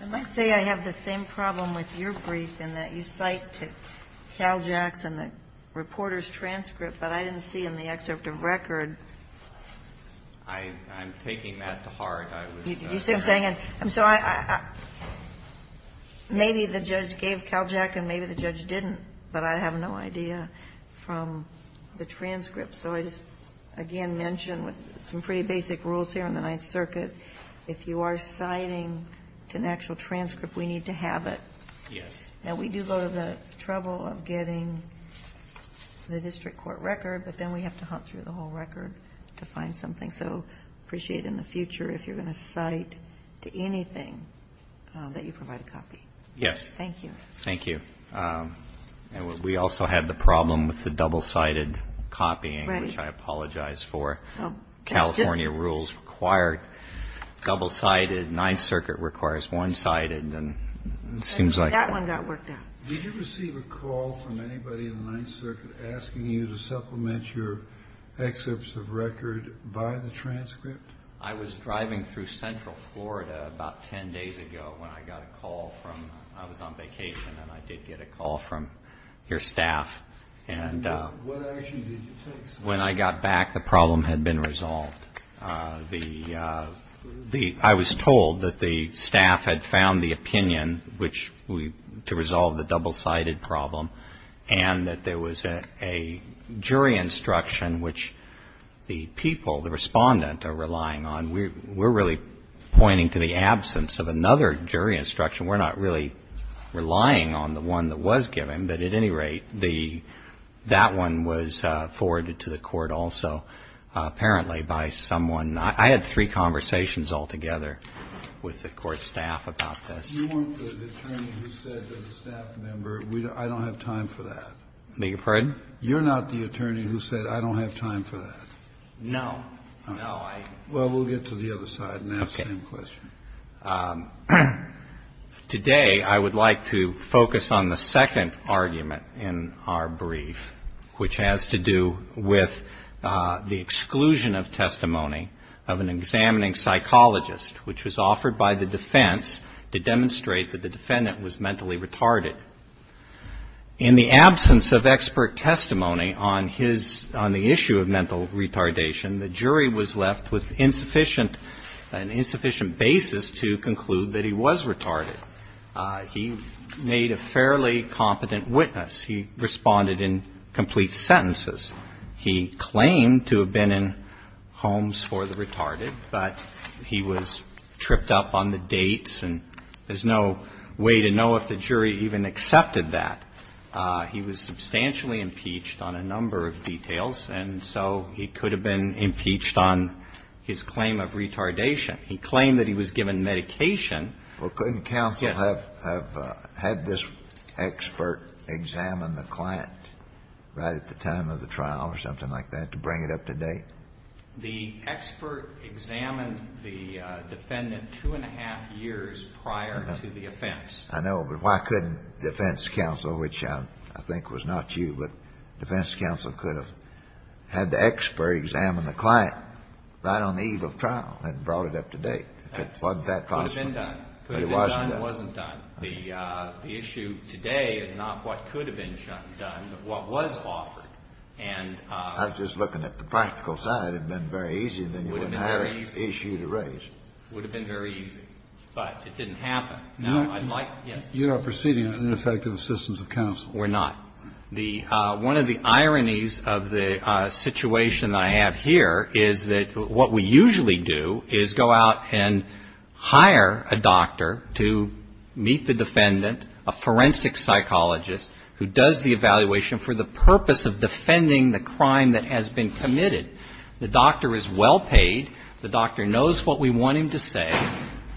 I might say I have the same problem with your brief in that you cite Cal Jacks and the reporter's transcript, but I didn't see in the excerpt of record. I'm taking that to heart. You see what I'm saying? Maybe the judge gave Cal Jack and maybe the judge didn't, but I have no idea from the transcript. So I just again mention with some pretty basic rules here in the Ninth Circuit, if you are citing to an actual transcript, we need to have it. Yes. And we do go to the trouble of getting the district court record, but then we have to hunt through the whole record to find something. So I'd appreciate it in the future if you're going to cite to anything that you provide a copy. Yes. Thank you. Thank you. We also had the problem with the double-sided copying, which I apologize for. California rules required double-sided. Ninth Circuit requires one-sided. That one got worked out. Did you receive a call from anybody in the Ninth Circuit asking you to supplement your excerpts of record by the transcript? I was driving through central Florida about ten days ago when I got a call from ñ I was on vacation and I did get a call from your staff. What action did you take? When I got back, the problem had been resolved. I was told that the staff had found the opinion to resolve the double-sided problem and that there was a jury instruction, which the people, the respondent, are relying on. We're really pointing to the absence of another jury instruction. We're not really relying on the one that was given. But at any rate, that one was forwarded to the court also apparently by someone. I had three conversations altogether with the court staff about this. Kennedy, you weren't the attorney who said to the staff member, I don't have time for that. I beg your pardon? You're not the attorney who said, I don't have time for that. No. No, I ñ Well, we'll get to the other side and ask the same question. Okay. Today I would like to focus on the second argument in our brief, which has to do with the exclusion of testimony of an examining psychologist, which was offered by the defense to demonstrate that the defendant was mentally retarded. In the absence of expert testimony on his ñ on the issue of mental retardation, the jury was left with insufficient ñ an insufficient basis to conclude that he was retarded. He made a fairly competent witness. He responded in complete sentences. He claimed to have been in homes for the retarded, but he was tripped up on the dates and there's no way to know if the jury even accepted that. He was substantially impeached on a number of details, and so he could have been impeached on his claim of retardation. He claimed that he was given medication. Well, couldn't counsel have had this expert examine the client right at the time of the trial or something like that to bring it up to date? The expert examined the defendant two and a half years prior to the offense. I know, but why couldn't defense counsel, which I think was not you, but defense counsel could have had the expert examine the client right on the eve of trial and brought it up to date? If it wasn't that possible. It could have been done. But it wasn't done. The issue today is not what could have been done, but what was offered. And ñ I was just looking at the practical side. It would have been very easy. It would have been very easy. Then you wouldn't have had an issue to raise. It would have been very easy. But it didn't happen. Now, I'd like ñ yes. You are proceeding on ineffective assistance of counsel. We're not. One of the ironies of the situation that I have here is that what we usually do is go out and hire a doctor to meet the defendant, a forensic psychologist who does the evaluation for the purpose of defending the crime that has been committed. The doctor is well paid. The doctor knows what we want him to say.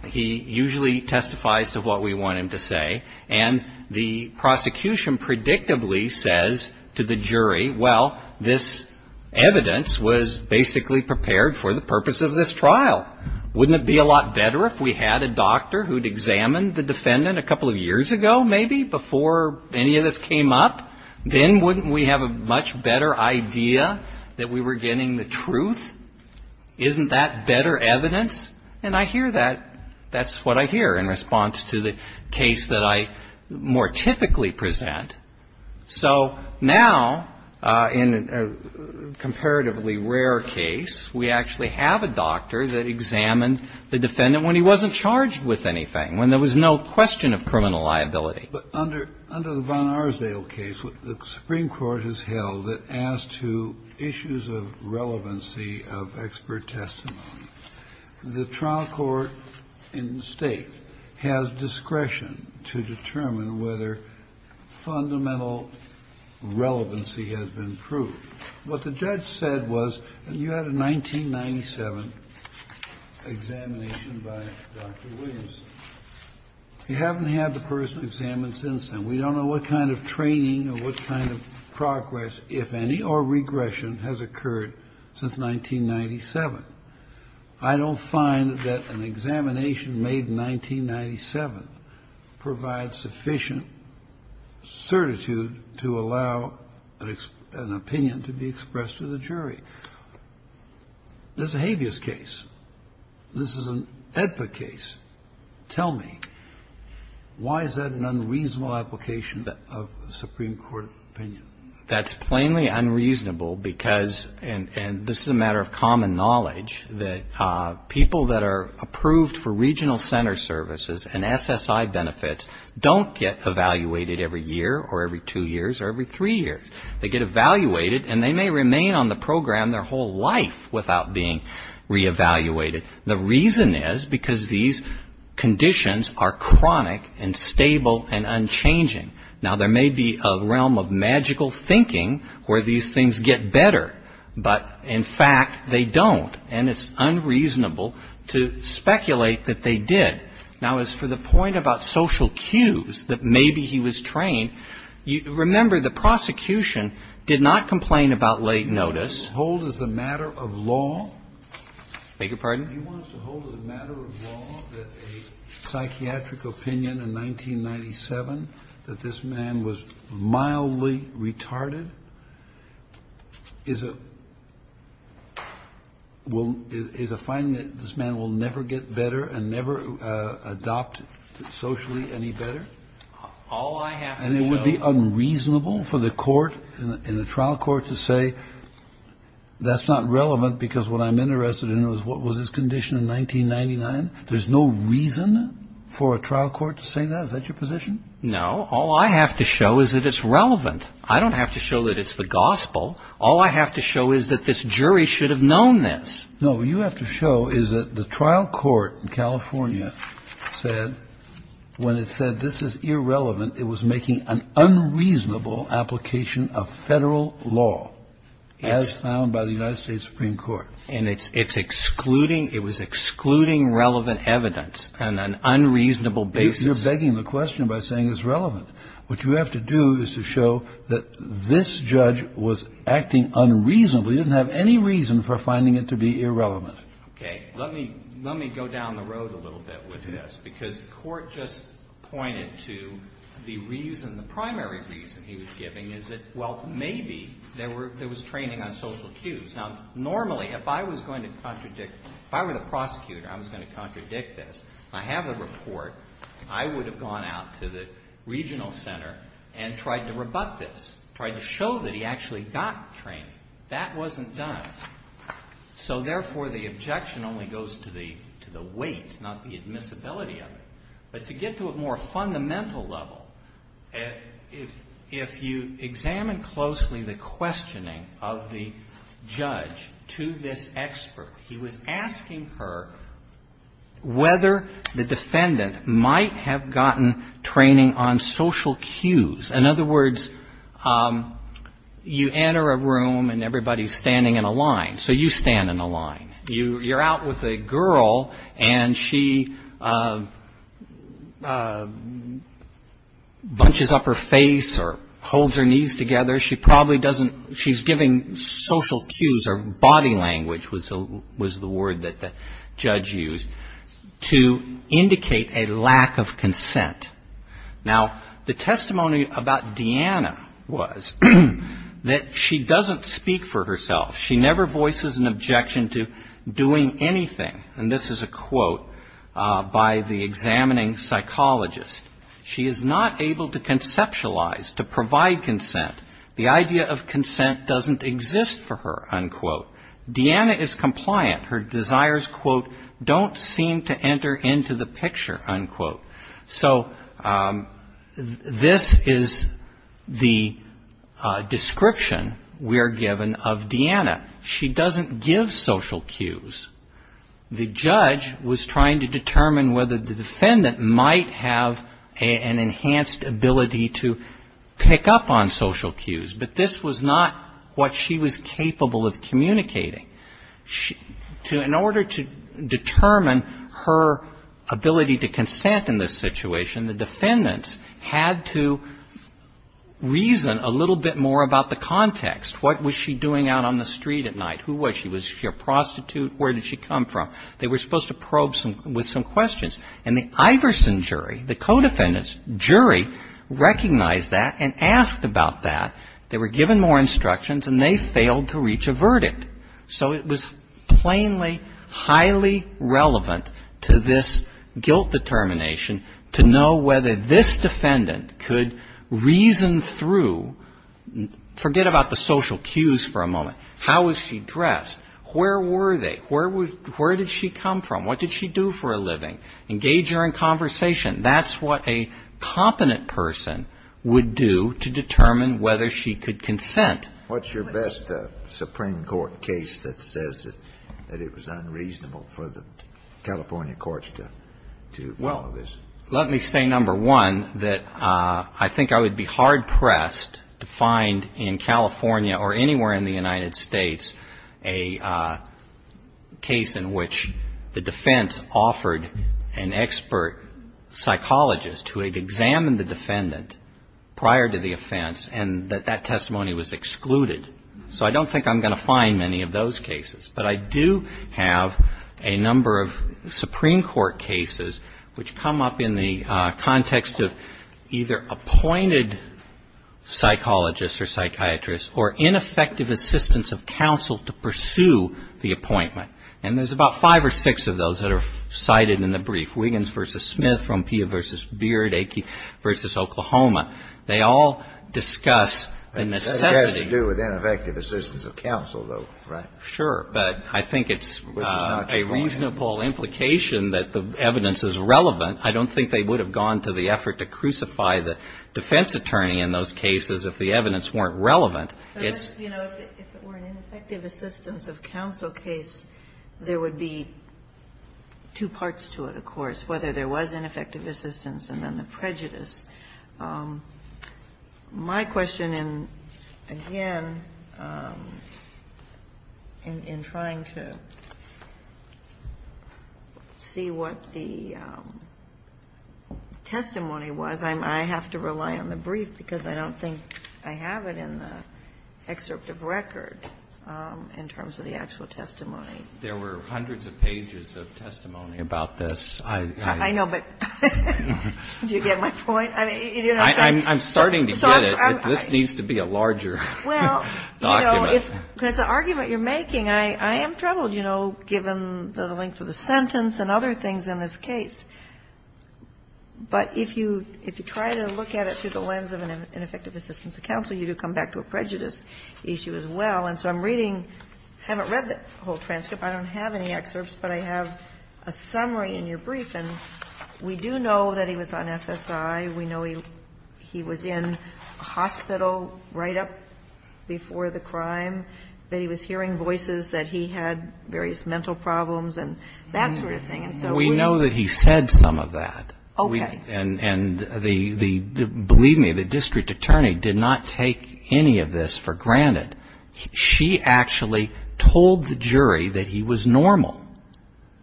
He usually testifies to what we want him to say. And the prosecution predictably says to the jury, well, this evidence was basically prepared for the purpose of this trial. Wouldn't it be a lot better if we had a doctor who'd examined the defendant a couple of years ago maybe before any of this came up? Then wouldn't we have a much better idea that we were getting the truth? Isn't that better evidence? And I hear that. That's what I hear in response to the case that I more typically present. So now, in a comparatively rare case, we actually have a doctor that examined the defendant when he wasn't charged with anything, when there was no question of criminal liability. But under the Von Arsdale case, the Supreme Court has held that as to issues of relevancy of expert testimony. The trial court in the State has discretion to determine whether fundamental relevancy has been proved. What the judge said was you had a 1997 examination by Dr. Williams. You haven't had the person examined since then. We don't know what kind of training or what kind of progress, if any, or regression has occurred since 1997. I don't find that an examination made in 1997 provides sufficient certitude to allow an opinion to be expressed to the jury. This is a habeas case. This is an AEDPA case. Tell me, why is that an unreasonable application of a Supreme Court opinion? That's plainly unreasonable because, and this is a matter of common knowledge, that people that are approved for regional center services and SSI benefits don't get evaluated every year or every two years or every three years. They get evaluated and they may remain on the program their whole life without being reevaluated. The reason is because these conditions are chronic and stable and unchanging. Now, there may be a realm of magical thinking where these things get better. But, in fact, they don't. And it's unreasonable to speculate that they did. Now, as for the point about social cues, that maybe he was trained, remember, the prosecution did not complain about late notice. This holds as a matter of law that a psychiatric opinion in 1997 that this man was mildly retarded is a finding that this man will never get better and never adopt socially any better. And it would be unreasonable for the court and the trial court to say that's not relevant because what I'm interested in is what was his condition in 1999. There's no reason for a trial court to say that. Is that your position? No. All I have to show is that it's relevant. I don't have to show that it's the gospel. All I have to show is that this jury should have known this. No, what you have to show is that the trial court in California said when it said this is irrelevant, it was making an unreasonable application of Federal law as found by the United States Supreme Court. And it's excluding, it was excluding relevant evidence on an unreasonable basis. You're begging the question by saying it's relevant. What you have to do is to show that this judge was acting unreasonably, didn't have any reason for finding it to be irrelevant. Okay. Let me go down the road a little bit with this, because the court just pointed to the reason, the primary reason he was giving is that, well, maybe there was training on social cues. Now, normally, if I was going to contradict, if I were the prosecutor, I was going to contradict this. I have the report. I would have gone out to the regional center and tried to rebut this, tried to show that he actually got training. That wasn't done. So, therefore, the objection only goes to the weight, not the admissibility of it. But to get to a more fundamental level, if you examine closely the questioning of the judge to this expert, he was asking her whether the defendant might have gotten training on social cues. In other words, you enter a room and everybody's standing in a line. So you stand in a line. You're out with a girl, and she bunches up her face or holds her knees together. She probably doesn't ‑‑ she's giving social cues, or body language was the word that the judge used, to indicate a lack of consent. Now, the testimony about Deanna was that she doesn't speak for herself. She never voices an objection to doing anything. And this is a quote by the examining psychologist. She is not able to conceptualize, to provide consent. The idea of consent doesn't exist for her, unquote. Deanna is compliant. Her desires, quote, don't seem to enter into the picture, unquote. So this is the description we are given of Deanna. She doesn't give social cues. The judge was trying to determine whether the defendant might have an enhanced ability to pick up on social cues. But this was not what she was capable of communicating. In order to determine her ability to consent in this situation, the defendants had to reason a little bit more about the context. What was she doing out on the street at night? Who was she? Was she a prostitute? Where did she come from? They were supposed to probe with some questions. And the Iverson jury, the codefendant's jury, recognized that and asked about that. They were given more instructions, and they failed to reach a verdict. So it was plainly, highly relevant to this guilt determination to know whether this defendant could reason through, forget about the social cues for a moment, how was she dressed, where were they, where did she come from, what did she do for a living, engage her in conversation. That's what a competent person would do to determine whether she could consent. What's your best Supreme Court case that says that it was unreasonable for the California courts to follow this? Well, let me say, number one, that I think I would be hard-pressed to find in California or anywhere in the United States a case in which the defense offered an expert psychologist who had examined the defendant prior to the offense and that that was excluded. So I don't think I'm going to find many of those cases. But I do have a number of Supreme Court cases which come up in the context of either appointed psychologists or psychiatrists or ineffective assistance of counsel to pursue the appointment. And there's about five or six of those that are cited in the brief. Wiggins v. Smith, Rompilla v. Beard, Aikin v. Oklahoma, they all discuss the necessity of an expert psychologist. in those cases if the evidence weren't relevant. I don't think they would have gone to the effort to crucify the defense attorney in those cases if the evidence weren't relevant. But, you know, if it were an ineffective assistance of counsel case, there would be two parts to it, of course, whether there was ineffective assistance and then the prejudice. My question, again, in trying to see what the testimony was, I have to rely on the brief because I don't think I have it in the excerpt of record in terms of the actual testimony. There were hundreds of pages of testimony about this. I'm starting to get it. This needs to be a larger document. Well, you know, because the argument you're making, I am troubled, you know, given the length of the sentence and other things in this case. But if you try to look at it through the lens of an ineffective assistance of counsel, you do come back to a prejudice issue as well. And so I'm reading, haven't read the whole transcript. I don't have any excerpts, but I have a summary in your brief. And we do know that he was on SSI. We know he was in hospital right up before the crime, that he was hearing voices, that he had various mental problems and that sort of thing. And so we know that he said some of that. Okay. And the, believe me, the district attorney did not take any of this for granted. She actually told the jury that he was normal.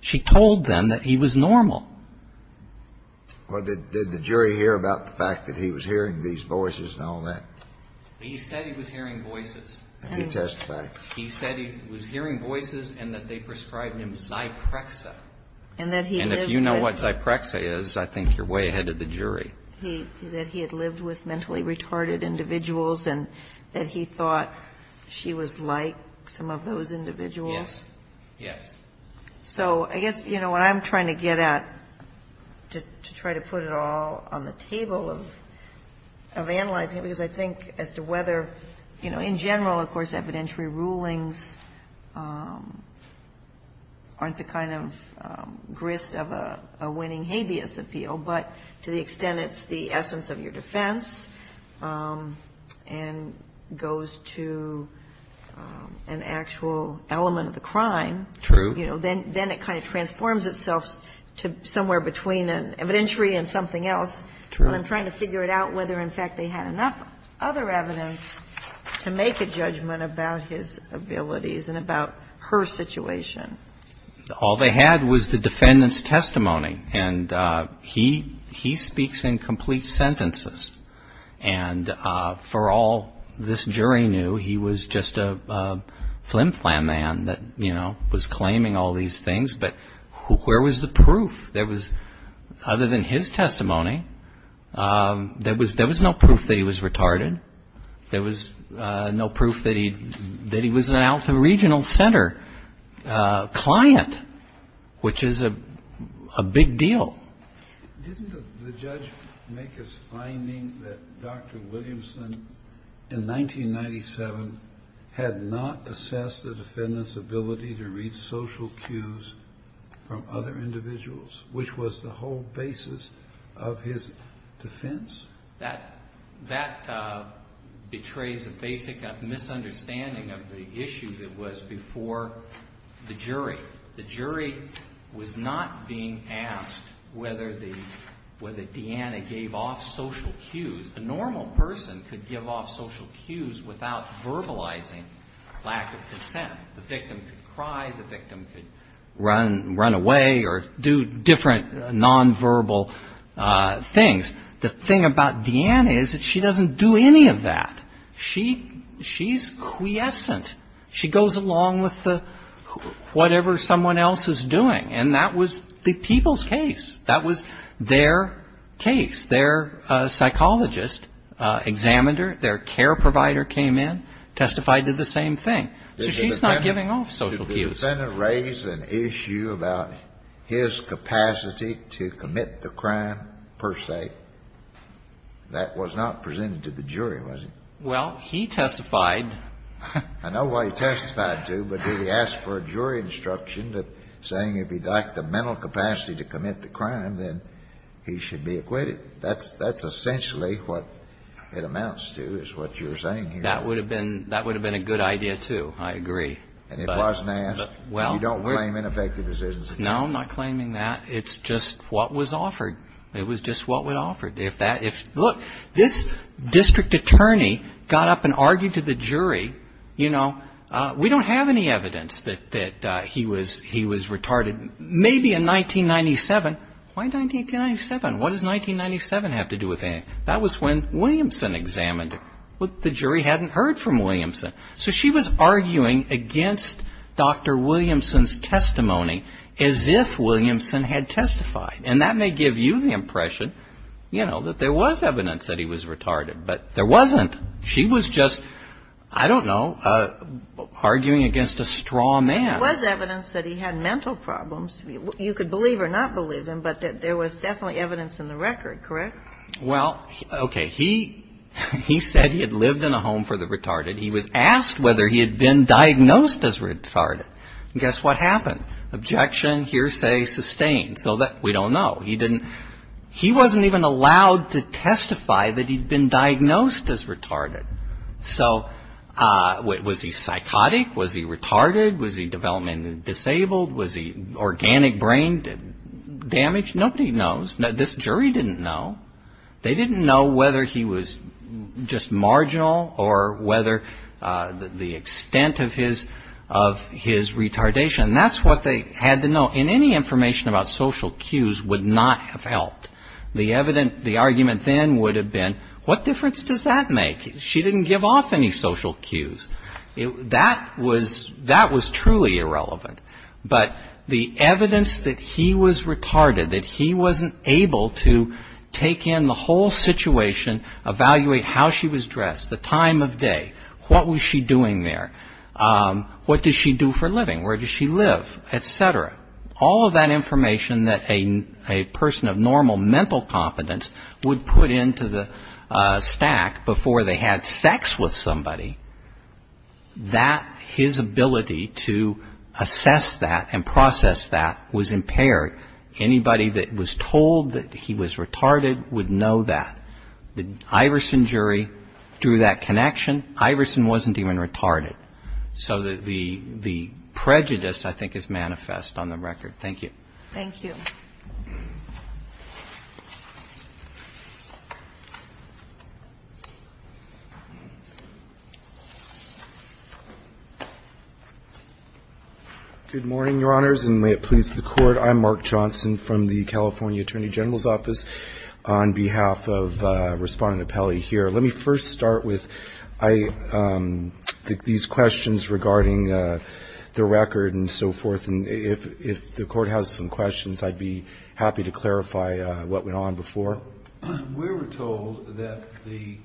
She told them that he was normal. Well, did the jury hear about the fact that he was hearing these voices and all that? He said he was hearing voices. He testified. He said he was hearing voices and that they prescribed him Zyprexa. And that he lived with. And if you know what Zyprexa is, I think you're way ahead of the jury. That he had lived with mentally retarded individuals and that he thought she was like some of those individuals. Yes. So I guess, you know, what I'm trying to get at to try to put it all on the table of analyzing it, because I think as to whether, you know, in general, of course, evidentiary rulings aren't the kind of grist of a winning habeas appeal, but to the extent it's the essence of your defense and goes to an actual element of the crime. True. You know, then it kind of transforms itself to somewhere between an evidentiary and something else. True. But I'm trying to figure it out whether, in fact, they had enough other evidence to make a judgment about his abilities and about her situation. All they had was the defendant's testimony. And he speaks in complete sentences. And for all this jury knew, he was just a flim-flam man that, you know, was claiming all these things. But where was the proof? There was, other than his testimony, there was no proof that he was retarded. There was no proof that he was an out-of-the-regional center client, which is a big deal. Didn't the judge make his finding that Dr. Williamson, in 1997, had not assessed the defendant's ability to read social cues from other individuals, which was the whole basis of his defense? That betrays a basic misunderstanding of the issue that was before the jury. The jury was not being asked whether Deanna gave off social cues. A normal person could give off social cues without verbalizing lack of consent. The victim could cry. The victim could run away or do different nonverbal things. The thing about Deanna is that she doesn't do any of that. She's quiescent. She goes along with whatever someone else is doing. And that was the people's case. That was their case. Their psychologist, examiner, their care provider came in, testified to the same thing. So she's not giving off social cues. Did the defendant raise an issue about his capacity to commit the crime, per se, that was not presented to the jury, was it? Well, he testified. I know what he testified to, but did he ask for a jury instruction saying if he lacked the mental capacity to commit the crime, then he should be acquitted? That's essentially what it amounts to, is what you're saying here. That would have been a good idea, too. I agree. And it wasn't asked. You don't claim ineffective decisions against him. No, I'm not claiming that. It's just what was offered. It was just what was offered. Look, this district attorney got up and argued to the jury, you know, we don't have any evidence that he was retarded. Maybe in 1997. Why 1997? What does 1997 have to do with anything? That was when Williamson examined it. The jury hadn't heard from Williamson. So she was arguing against Dr. Williamson's testimony as if Williamson had testified. And that may give you the impression, you know, that there was evidence that he was retarded. But there wasn't. She was just, I don't know, arguing against a straw man. There was evidence that he had mental problems. You could believe or not believe him, but there was definitely evidence in the record, correct? Well, okay. He said he had lived in a home for the retarded. He was asked whether he had been diagnosed as retarded. And guess what happened? Objection. Hearsay sustained. So we don't know. He wasn't even allowed to testify that he'd been diagnosed as retarded. So was he psychotic? Was he retarded? Was he developmentally disabled? Was he organic brain damage? Nobody knows. This jury didn't know. They didn't know whether he was just marginal or whether the extent of his retardation. And that's what they had to know. And any information about social cues would not have helped. The argument then would have been, what difference does that make? She didn't give off any social cues. That was truly irrelevant. But the evidence that he was retarded, that he wasn't able to take in the whole situation, evaluate how she was dressed, the time of day, what was she doing there, what did she do for a living, where did she live, et cetera. All of that information that a person of normal mental competence would put into the stack before they had sex with somebody, his ability to assess that and process that was impaired. Anybody that was told that he was retarded would know that. The Iverson jury drew that connection. Iverson wasn't even retarded. So the prejudice, I think, is manifest on the record. Thank you. Thank you. Good morning, Your Honors, and may it please the Court. I'm Mark Johnson from the California Attorney General's Office. On behalf of Respondent Pelley here, let me first start with these questions regarding the record and so forth. And if the Court has some questions, I'd be happy to clarify what went on before. We were told that the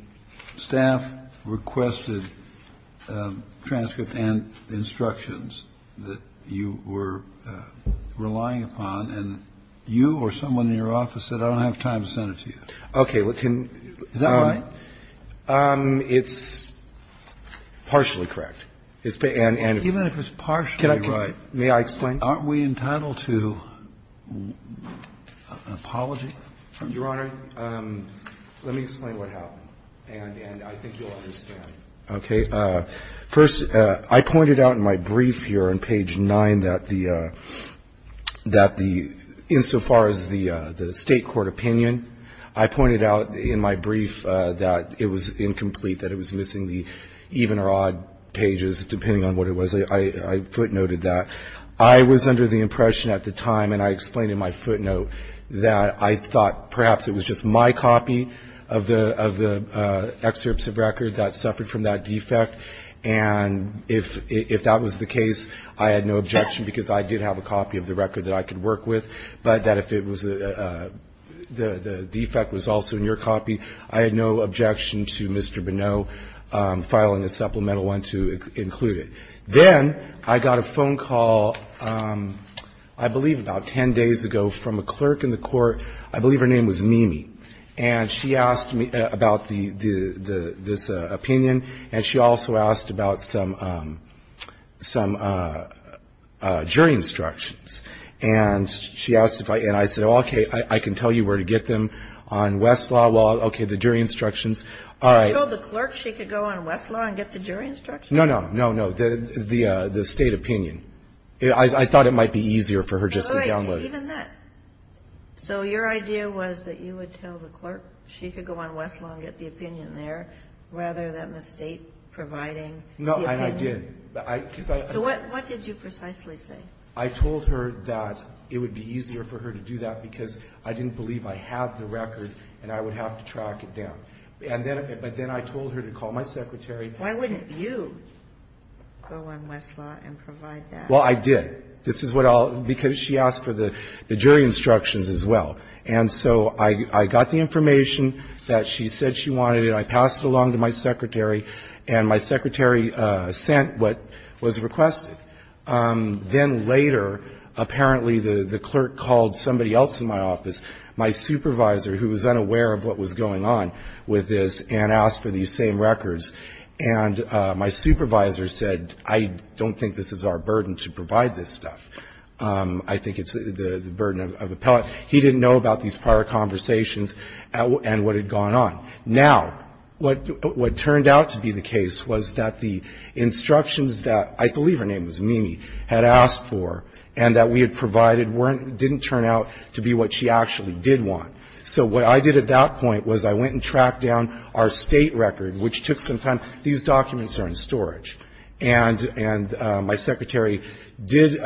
staff requested transcripts and instructions that you were relying upon, and you or someone in your office said, I don't have time to send it to you. Okay. Is that right? It's partially correct. Even if it's partially right, aren't we entitled to an apology? Your Honor, let me explain what happened, and I think you'll understand. Okay. First, I pointed out in my brief here on page 9 that the, that the, insofar as the State Court opinion, I pointed out in my brief that it was incomplete, that it was missing the even or odd pages, depending on what it was. I footnoted that. I was under the impression at the time, and I explained in my footnote, that I thought perhaps it was just my copy of the excerpts of record that suffered from that defect. And if that was the case, I had no objection, because I did have a copy of the record that I could work with, but that if it was a, the defect was also in your copy, I had no objection to Mr. Bonneau filing a supplemental one to include it. Then I got a phone call, I believe about 10 days ago, from a clerk in the Court, I believe her name was Mimi, and she asked me about the, the, the, this opinion, and she also asked about some, some jury instructions. And she asked if I, and I said, okay, I can tell you where to get them on Westlaw, well, okay, the jury instructions. All right. You told the clerk she could go on Westlaw and get the jury instructions? No, no, no, no, the, the State opinion. I thought it might be easier for her just to download it. Even that. So your idea was that you would tell the clerk she could go on Westlaw and get the opinion there, rather than the State providing the opinion? No, and I did. So what, what did you precisely say? I told her that it would be easier for her to do that, because I didn't believe I had the record and I would have to track it down. And then, but then I told her to call my secretary. Why wouldn't you go on Westlaw and provide that? Well, I did. This is what I'll, because she asked for the, the jury instructions as well. And so I, I got the information that she said she wanted, and I passed it along to my secretary, and my secretary sent what was requested. Then later, apparently the, the clerk called somebody else in my office, my supervisor, who was unaware of what was going on with this, and asked for these same records. And my supervisor said, I don't think this is our burden to provide this stuff. I think it's the, the burden of appellate. He didn't know about these prior conversations and what had gone on. Now, what, what turned out to be the case was that the instructions that, I believe her name was Mimi, had asked for and that we had provided weren't, didn't turn out to be what she actually did want. So what I did at that point was I went and tracked down our State record, which took some time. These documents are in storage. And, and my secretary did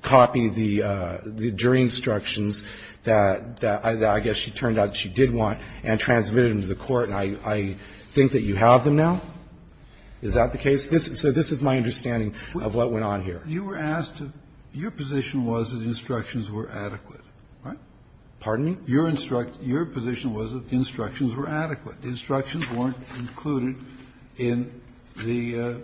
copy the, the jury instructions that, that I guess she turned out she did want and transmitted them to the court. And I, I think that you have them now. Is that the case? This, so this is my understanding of what went on here. You were asked to, your position was that the instructions were adequate, right? Pardon me? Your instruct, your position was that the instructions were adequate. The instructions weren't included in the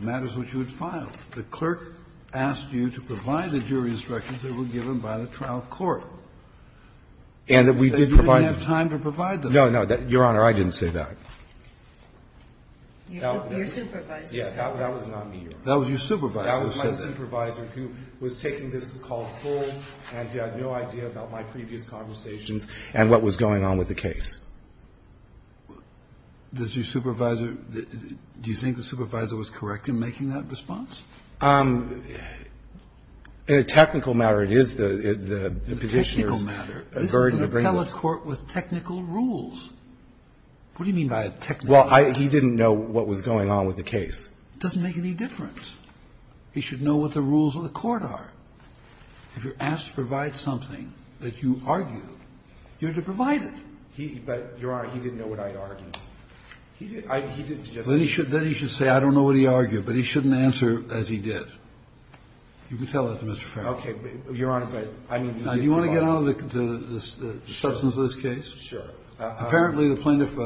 matters which you had filed. The clerk asked you to provide the jury instructions that were given by the trial court. And that we did provide them. And you didn't have time to provide them. No, no, that, Your Honor, I didn't say that. Your supervisor said that. Yes, that was not me, Your Honor. That was your supervisor. That was my supervisor who was taking this call full and he had no idea about my previous conversations and what was going on with the case. Does your supervisor, do you think the supervisor was correct in making that response? In a technical matter, it is the, the Petitioner's burden to bring this. In a technical matter. This is an appellate court with technical rules. What do you mean by technical rules? It doesn't make any difference. He should know what the rules of the court are. If you're asked to provide something that you argue, you're to provide it. He, but, Your Honor, he didn't know what I argued. He didn't, I, he didn't suggest that. Then he should say I don't know what he argued, but he shouldn't answer as he did. You can tell that to Mr. Farrell. But, Your Honor, but, I mean, you didn't provide it. Now, do you want to get on to the substance of this case? Sure. Apparently, the plaintiff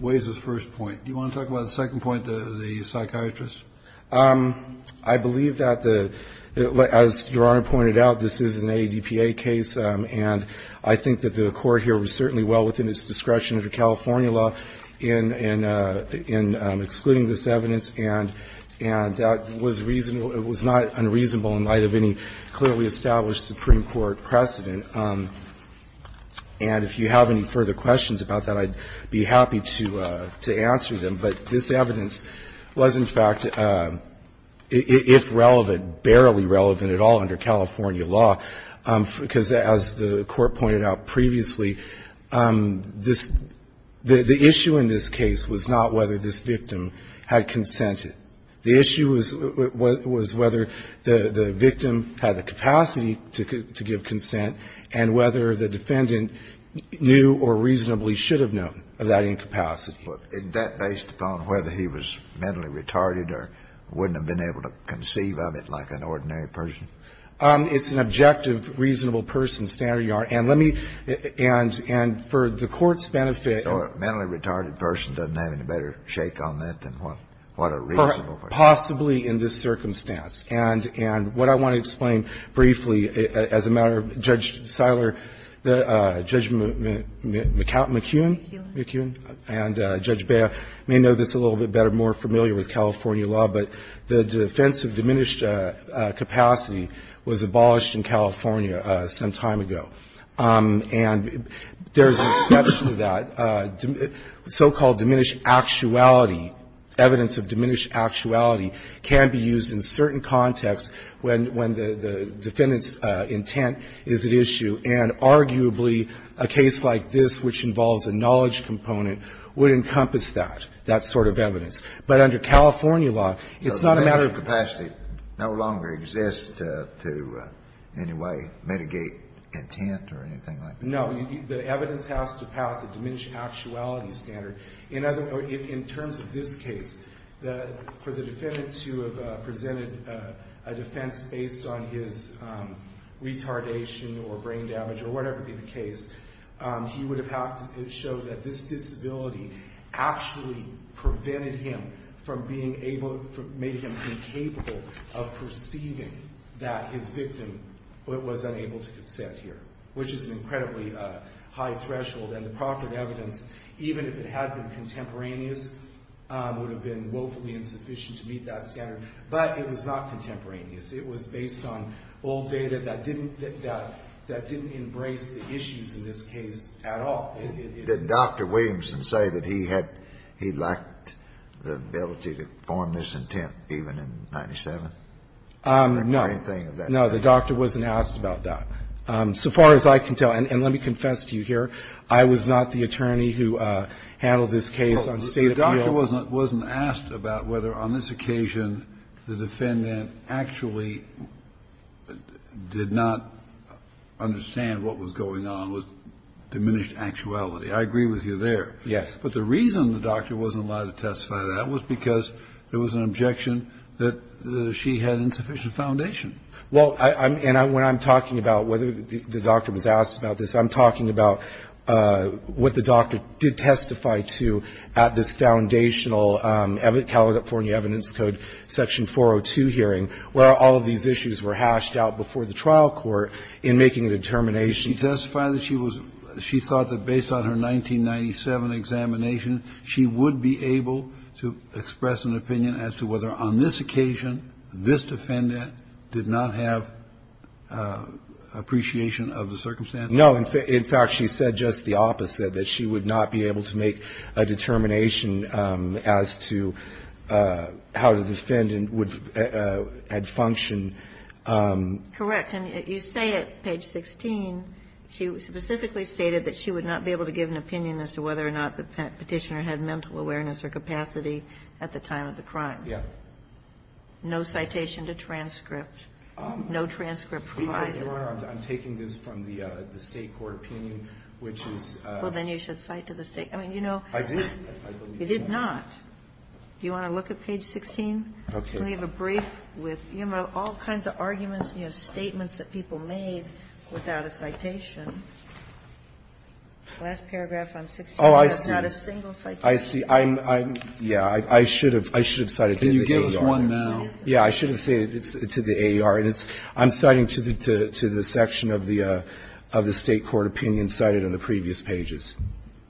weighs his first point. Do you want to talk about the second point, the psychiatrist? I believe that the, as Your Honor pointed out, this is an ADPA case, and I think that the court here was certainly well within its discretion under California law in, in excluding this evidence, and that was reasonable, it was not unreasonable in light of any clearly established Supreme Court precedent. And if you have any further questions about that, I'd be happy to, to answer them. But this evidence was, in fact, if relevant, barely relevant at all under California law, because as the Court pointed out previously, this, the issue in this case was not whether this victim had consented. The issue was, was whether the, the victim had the capacity to, to give consent and whether the defendant knew or reasonably should have known of that incapacity. Look, isn't that based upon whether he was mentally retarded or wouldn't have been able to conceive of it like an ordinary person? It's an objective, reasonable person, standard, Your Honor. And let me, and, and for the Court's benefit. So a mentally retarded person doesn't have any better shake on that than what, what a reasonable person. Possibly in this circumstance. And, and what I want to explain briefly, as a matter of, Judge Siler, Judge McKeown? McKeown. McKeown. And Judge Bea may know this a little bit better, more familiar with California law, but the defense of diminished capacity was abolished in California some time ago. And there's an exception to that, so-called diminished actuality, evidence of diminished actuality can be used in certain contexts when, when the defendant's intent is at issue. And arguably, a case like this, which involves a knowledge component, would encompass that, that sort of evidence. But under California law, it's not a matter of capacity. No longer exists to in any way mitigate intent or anything like that. No. The evidence has to pass a diminished actuality standard. In other, in terms of this case, the, for the defendant to have presented a defense based on his retardation or brain damage, or whatever be the case, he would have had to show that this disability actually prevented him from being able, made him incapable of perceiving that his victim was unable to consent here, which is an incredibly high threshold. And the proffered evidence, even if it had been contemporaneous, would have been woefully insufficient to meet that standard. But it was not contemporaneous. It was based on old data that didn't, that didn't embrace the issues in this case at all. It didn't. Scalia. Did Dr. Williamson say that he had, he lacked the ability to form this intent even in 97? Or anything of that nature? Phillips. No. No. The doctor wasn't asked about that. So far as I can tell, and let me confess to you here, I was not the attorney who handled this case on state appeal. The doctor wasn't asked about whether on this occasion the defendant actually did not understand what was going on with diminished actuality. I agree with you there. Yes. But the reason the doctor wasn't allowed to testify to that was because there was an objection that she had insufficient foundation. Well, and when I'm talking about whether the doctor was asked about this, I'm talking about what the doctor did testify to at this foundational California Evidence Code section 402 hearing, where all of these issues were hashed out before the trial court in making a determination. She testified that she was, she thought that based on her 1997 examination, she would be able to express an opinion as to whether on this occasion this defendant did not have appreciation of the circumstances. No. In fact, she said just the opposite, that she would not be able to make a determination as to how the defendant would, had functioned. Correct. And you say at page 16, she specifically stated that she would not be able to give an opinion as to whether or not the Petitioner had mental awareness or capacity at the time of the crime. Yes. No citation to transcript. No transcript provided. Your Honor, I'm taking this from the State court opinion, which is the one that's being cited. Well, then you should cite to the State. I mean, you know, you did not. Do you want to look at page 16? Okay. And we have a brief with all kinds of arguments and you have statements that people made without a citation. The last paragraph on page 16. Oh, I see. That's not a single citation. I see. Yeah, I should have cited to the AER. Can you give us one now? Yeah, I should have cited to the AER. I'm citing to the section of the State court opinion cited in the previous pages.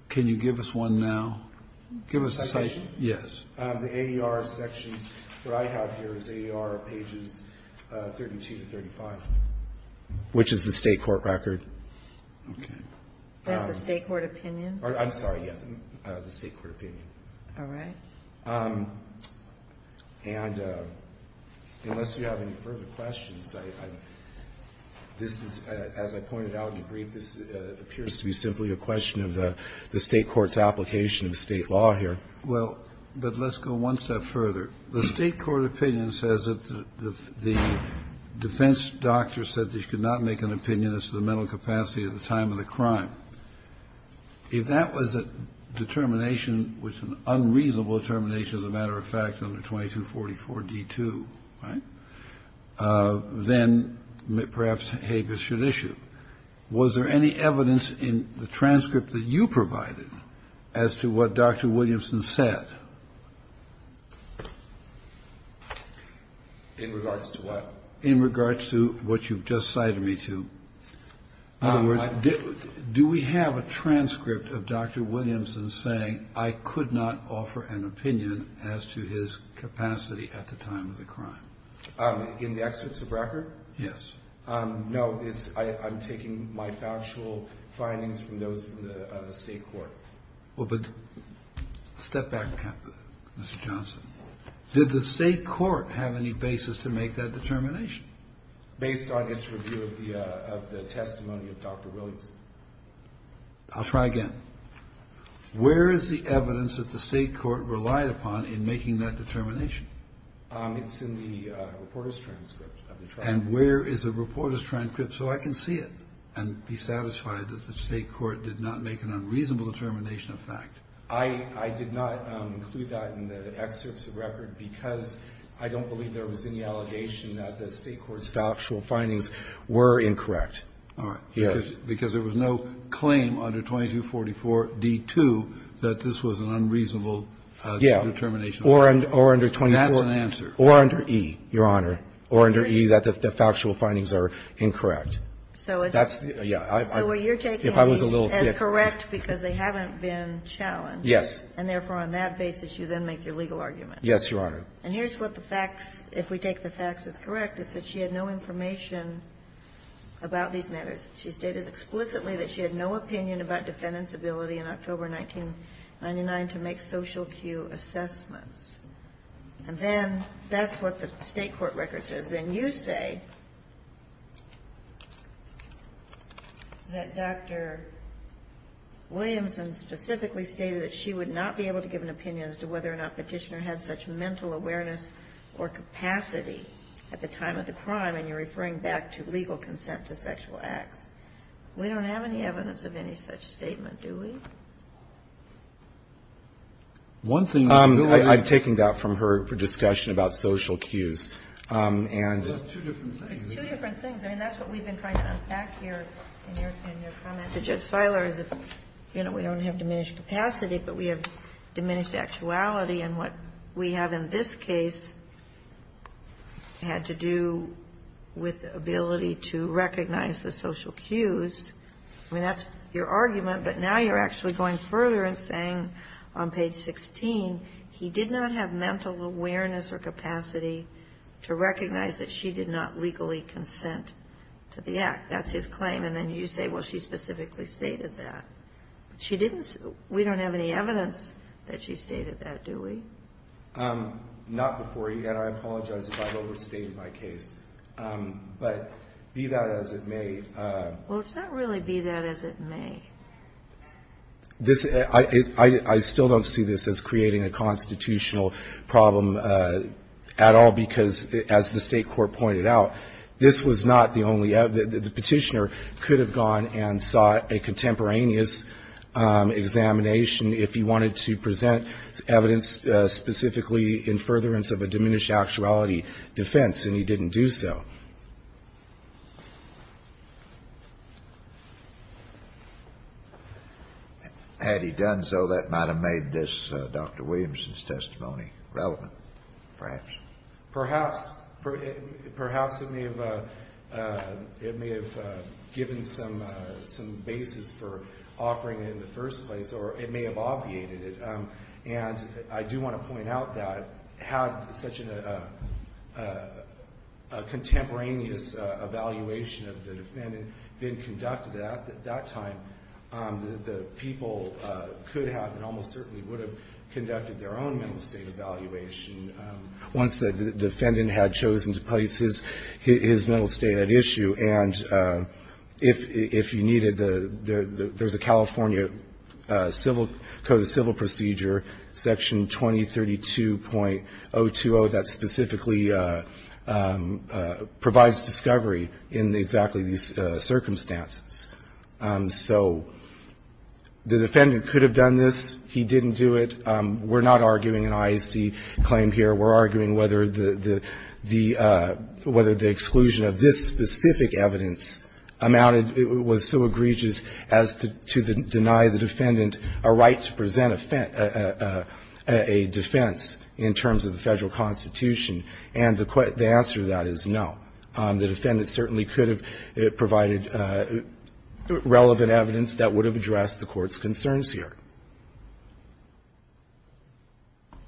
Can you give us one now? Give us a citation. Yes. The AER sections, what I have here is AER pages 32 to 35. Which is the State court record. Okay. That's the State court opinion? I'm sorry, yes. That's the State court opinion. All right. And unless you have any further questions, this is, as I pointed out in the brief, this appears to be simply a question of the State court's application of State law here. Well, but let's go one step further. The State court opinion says that the defense doctor said that you could not make an opinion as to the mental capacity at the time of the crime. Now, if that was a determination which was an unreasonable determination, as a matter of fact, under 2244d2, right, then perhaps Habeas should issue. Was there any evidence in the transcript that you provided as to what Dr. Williamson said? In regards to what? In regards to what you've just cited me to. In other words, do we have a transcript of Dr. Williamson saying I could not offer an opinion as to his capacity at the time of the crime? In the excerpts of record? Yes. No. I'm taking my factual findings from those of the State court. Well, but step back, Mr. Johnson. Did the State court have any basis to make that determination? Based on its review of the testimony of Dr. Williamson. I'll try again. Where is the evidence that the State court relied upon in making that determination? It's in the reporter's transcript. And where is the reporter's transcript so I can see it and be satisfied that the State court did not make an unreasonable determination of fact? I did not include that in the excerpts of record because I don't believe there was any evidence that the State court's factual findings were incorrect. All right. Because there was no claim under 2244d-2 that this was an unreasonable determination. Yeah. Or under 24. That's an answer. Or under E, Your Honor. Or under E that the factual findings are incorrect. So it's. That's, yeah. So you're taking these as correct because they haven't been challenged. Yes. And therefore, on that basis, you then make your legal argument. Yes, Your Honor. And here's what the facts, if we take the facts as correct, is that she had no information about these matters. She stated explicitly that she had no opinion about defendants' ability in October 1999 to make social cue assessments. And then that's what the State court record says. Then you say that Dr. Williamson specifically stated that she would not be able to give an opinion as to whether or not Petitioner had such mental awareness or capacity at the time of the crime. And you're referring back to legal consent to sexual acts. We don't have any evidence of any such statement, do we? One thing. I'm taking that from her discussion about social cues. And. Well, that's two different things. It's two different things. I mean, that's what we've been trying to unpack here in your comment to Judge Siler is, you know, we don't have diminished capacity, but we have diminished actuality. And what we have in this case had to do with the ability to recognize the social cues. I mean, that's your argument. But now you're actually going further and saying on page 16, he did not have mental awareness or capacity to recognize that she did not legally consent to the act. That's his claim. And then you say, well, she specifically stated that. She didn't. We don't have any evidence that she stated that, do we? Not before you. And I apologize if I've overstated my case. But be that as it may. Well, it's not really be that as it may. I still don't see this as creating a constitutional problem at all, because as the State Commissioner could have gone and sought a contemporaneous examination if he wanted to present evidence specifically in furtherance of a diminished actuality defense, and he didn't do so. Had he done so, that might have made this Dr. Williamson's testimony relevant, perhaps. Perhaps it may have given some basis for offering it in the first place, or it may have obviated it. And I do want to point out that had such a contemporaneous evaluation of the defendant been conducted at that time, the people could have and almost certainly would have conducted their own mental state evaluation. Once the defendant had chosen to place his mental state at issue, and if you needed the – there's a California Code of Civil Procedure, Section 2032.020, that specifically provides discovery in exactly these circumstances. So the defendant could have done this. He didn't do it. We're not arguing an IAC claim here. We're arguing whether the exclusion of this specific evidence amounted – was so egregious as to deny the defendant a right to present a defense in terms of the Federal Constitution. And the answer to that is no. The defendant certainly could have provided relevant evidence that would have addressed the Court's concerns here.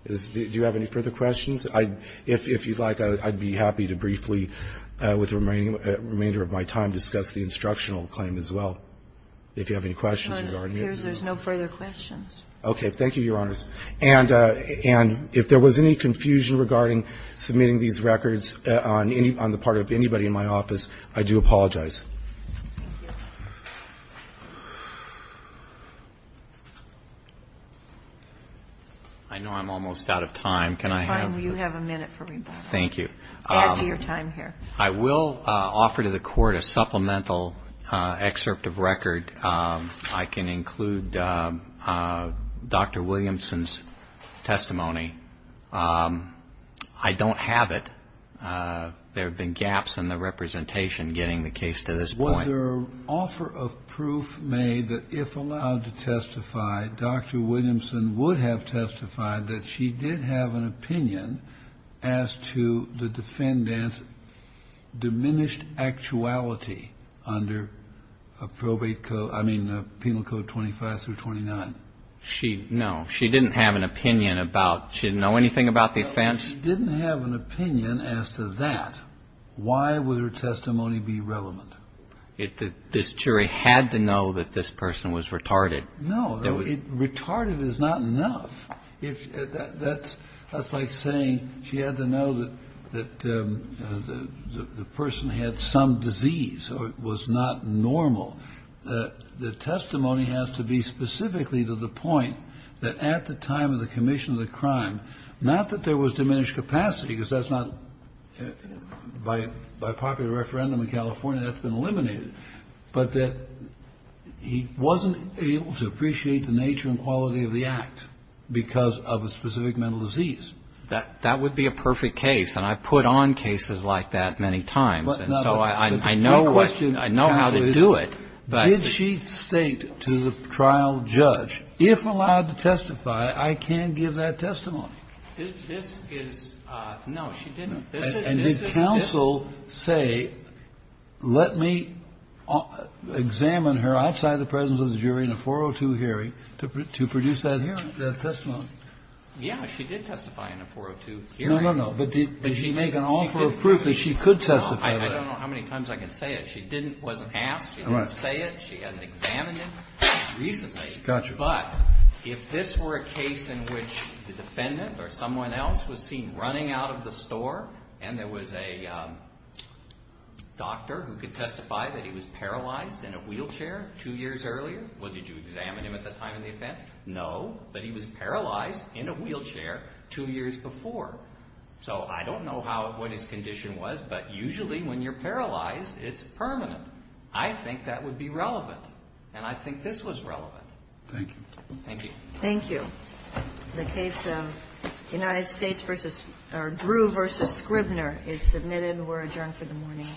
Do you have any further questions? If you'd like, I'd be happy to briefly, with the remainder of my time, discuss the instructional claim as well, if you have any questions regarding it. It appears there's no further questions. Okay. Thank you, Your Honors. And if there was any confusion regarding submitting these records on the part of anybody in my office, I do apologize. I know I'm almost out of time. Can I have – You have a minute for rebuttal. Thank you. Add to your time here. I will offer to the Court a supplemental excerpt of record. I can include Dr. Williamson's testimony. I don't have it. There have been gaps in the representation getting the case to us. I will add to this point whether – Was there an offer of proof made that, if allowed to testify, Dr. Williamson would have testified that she did have an opinion as to the defendant's diminished actuality under a probate code – I mean, Penal Code 25 through 29? She – no. She didn't have an opinion about – She didn't know anything about the offense? She didn't have an opinion as to that. Why would her testimony be relevant? This jury had to know that this person was retarded. No. Retarded is not enough. That's like saying she had to know that the person had some disease or it was not normal. The testimony has to be specifically to the point that at the time of the commission of the crime, not that there was diminished capacity, because that's not – by popular referendum in California, that's been eliminated, but that he wasn't able to appreciate the nature and quality of the act because of a specific mental disease. That would be a perfect case, and I've put on cases like that many times, and so I know what – I know how to do it, but – But if she didn't testify, I can't give that testimony. This is – no, she didn't. And did counsel say, let me examine her outside the presence of the jury in a 402 hearing to produce that hearing, that testimony? Yeah. She did testify in a 402 hearing. No, no, no. But did she make an offer of proof that she could testify? I don't know how many times I can say it. She didn't – wasn't asked. She didn't say it. She hasn't examined it recently. Gotcha. But if this were a case in which the defendant or someone else was seen running out of the store and there was a doctor who could testify that he was paralyzed in a wheelchair two years earlier – well, did you examine him at the time of the offense? No, but he was paralyzed in a wheelchair two years before. So I don't know how – what his condition was, but usually when you're paralyzed, it's permanent. I think that would be relevant, and I think this was relevant. Thank you. Thank you. Thank you. The case of United States v. – or Drew v. Scribner is submitted. We're adjourned for the morning. Bye-bye. This court is adjourned.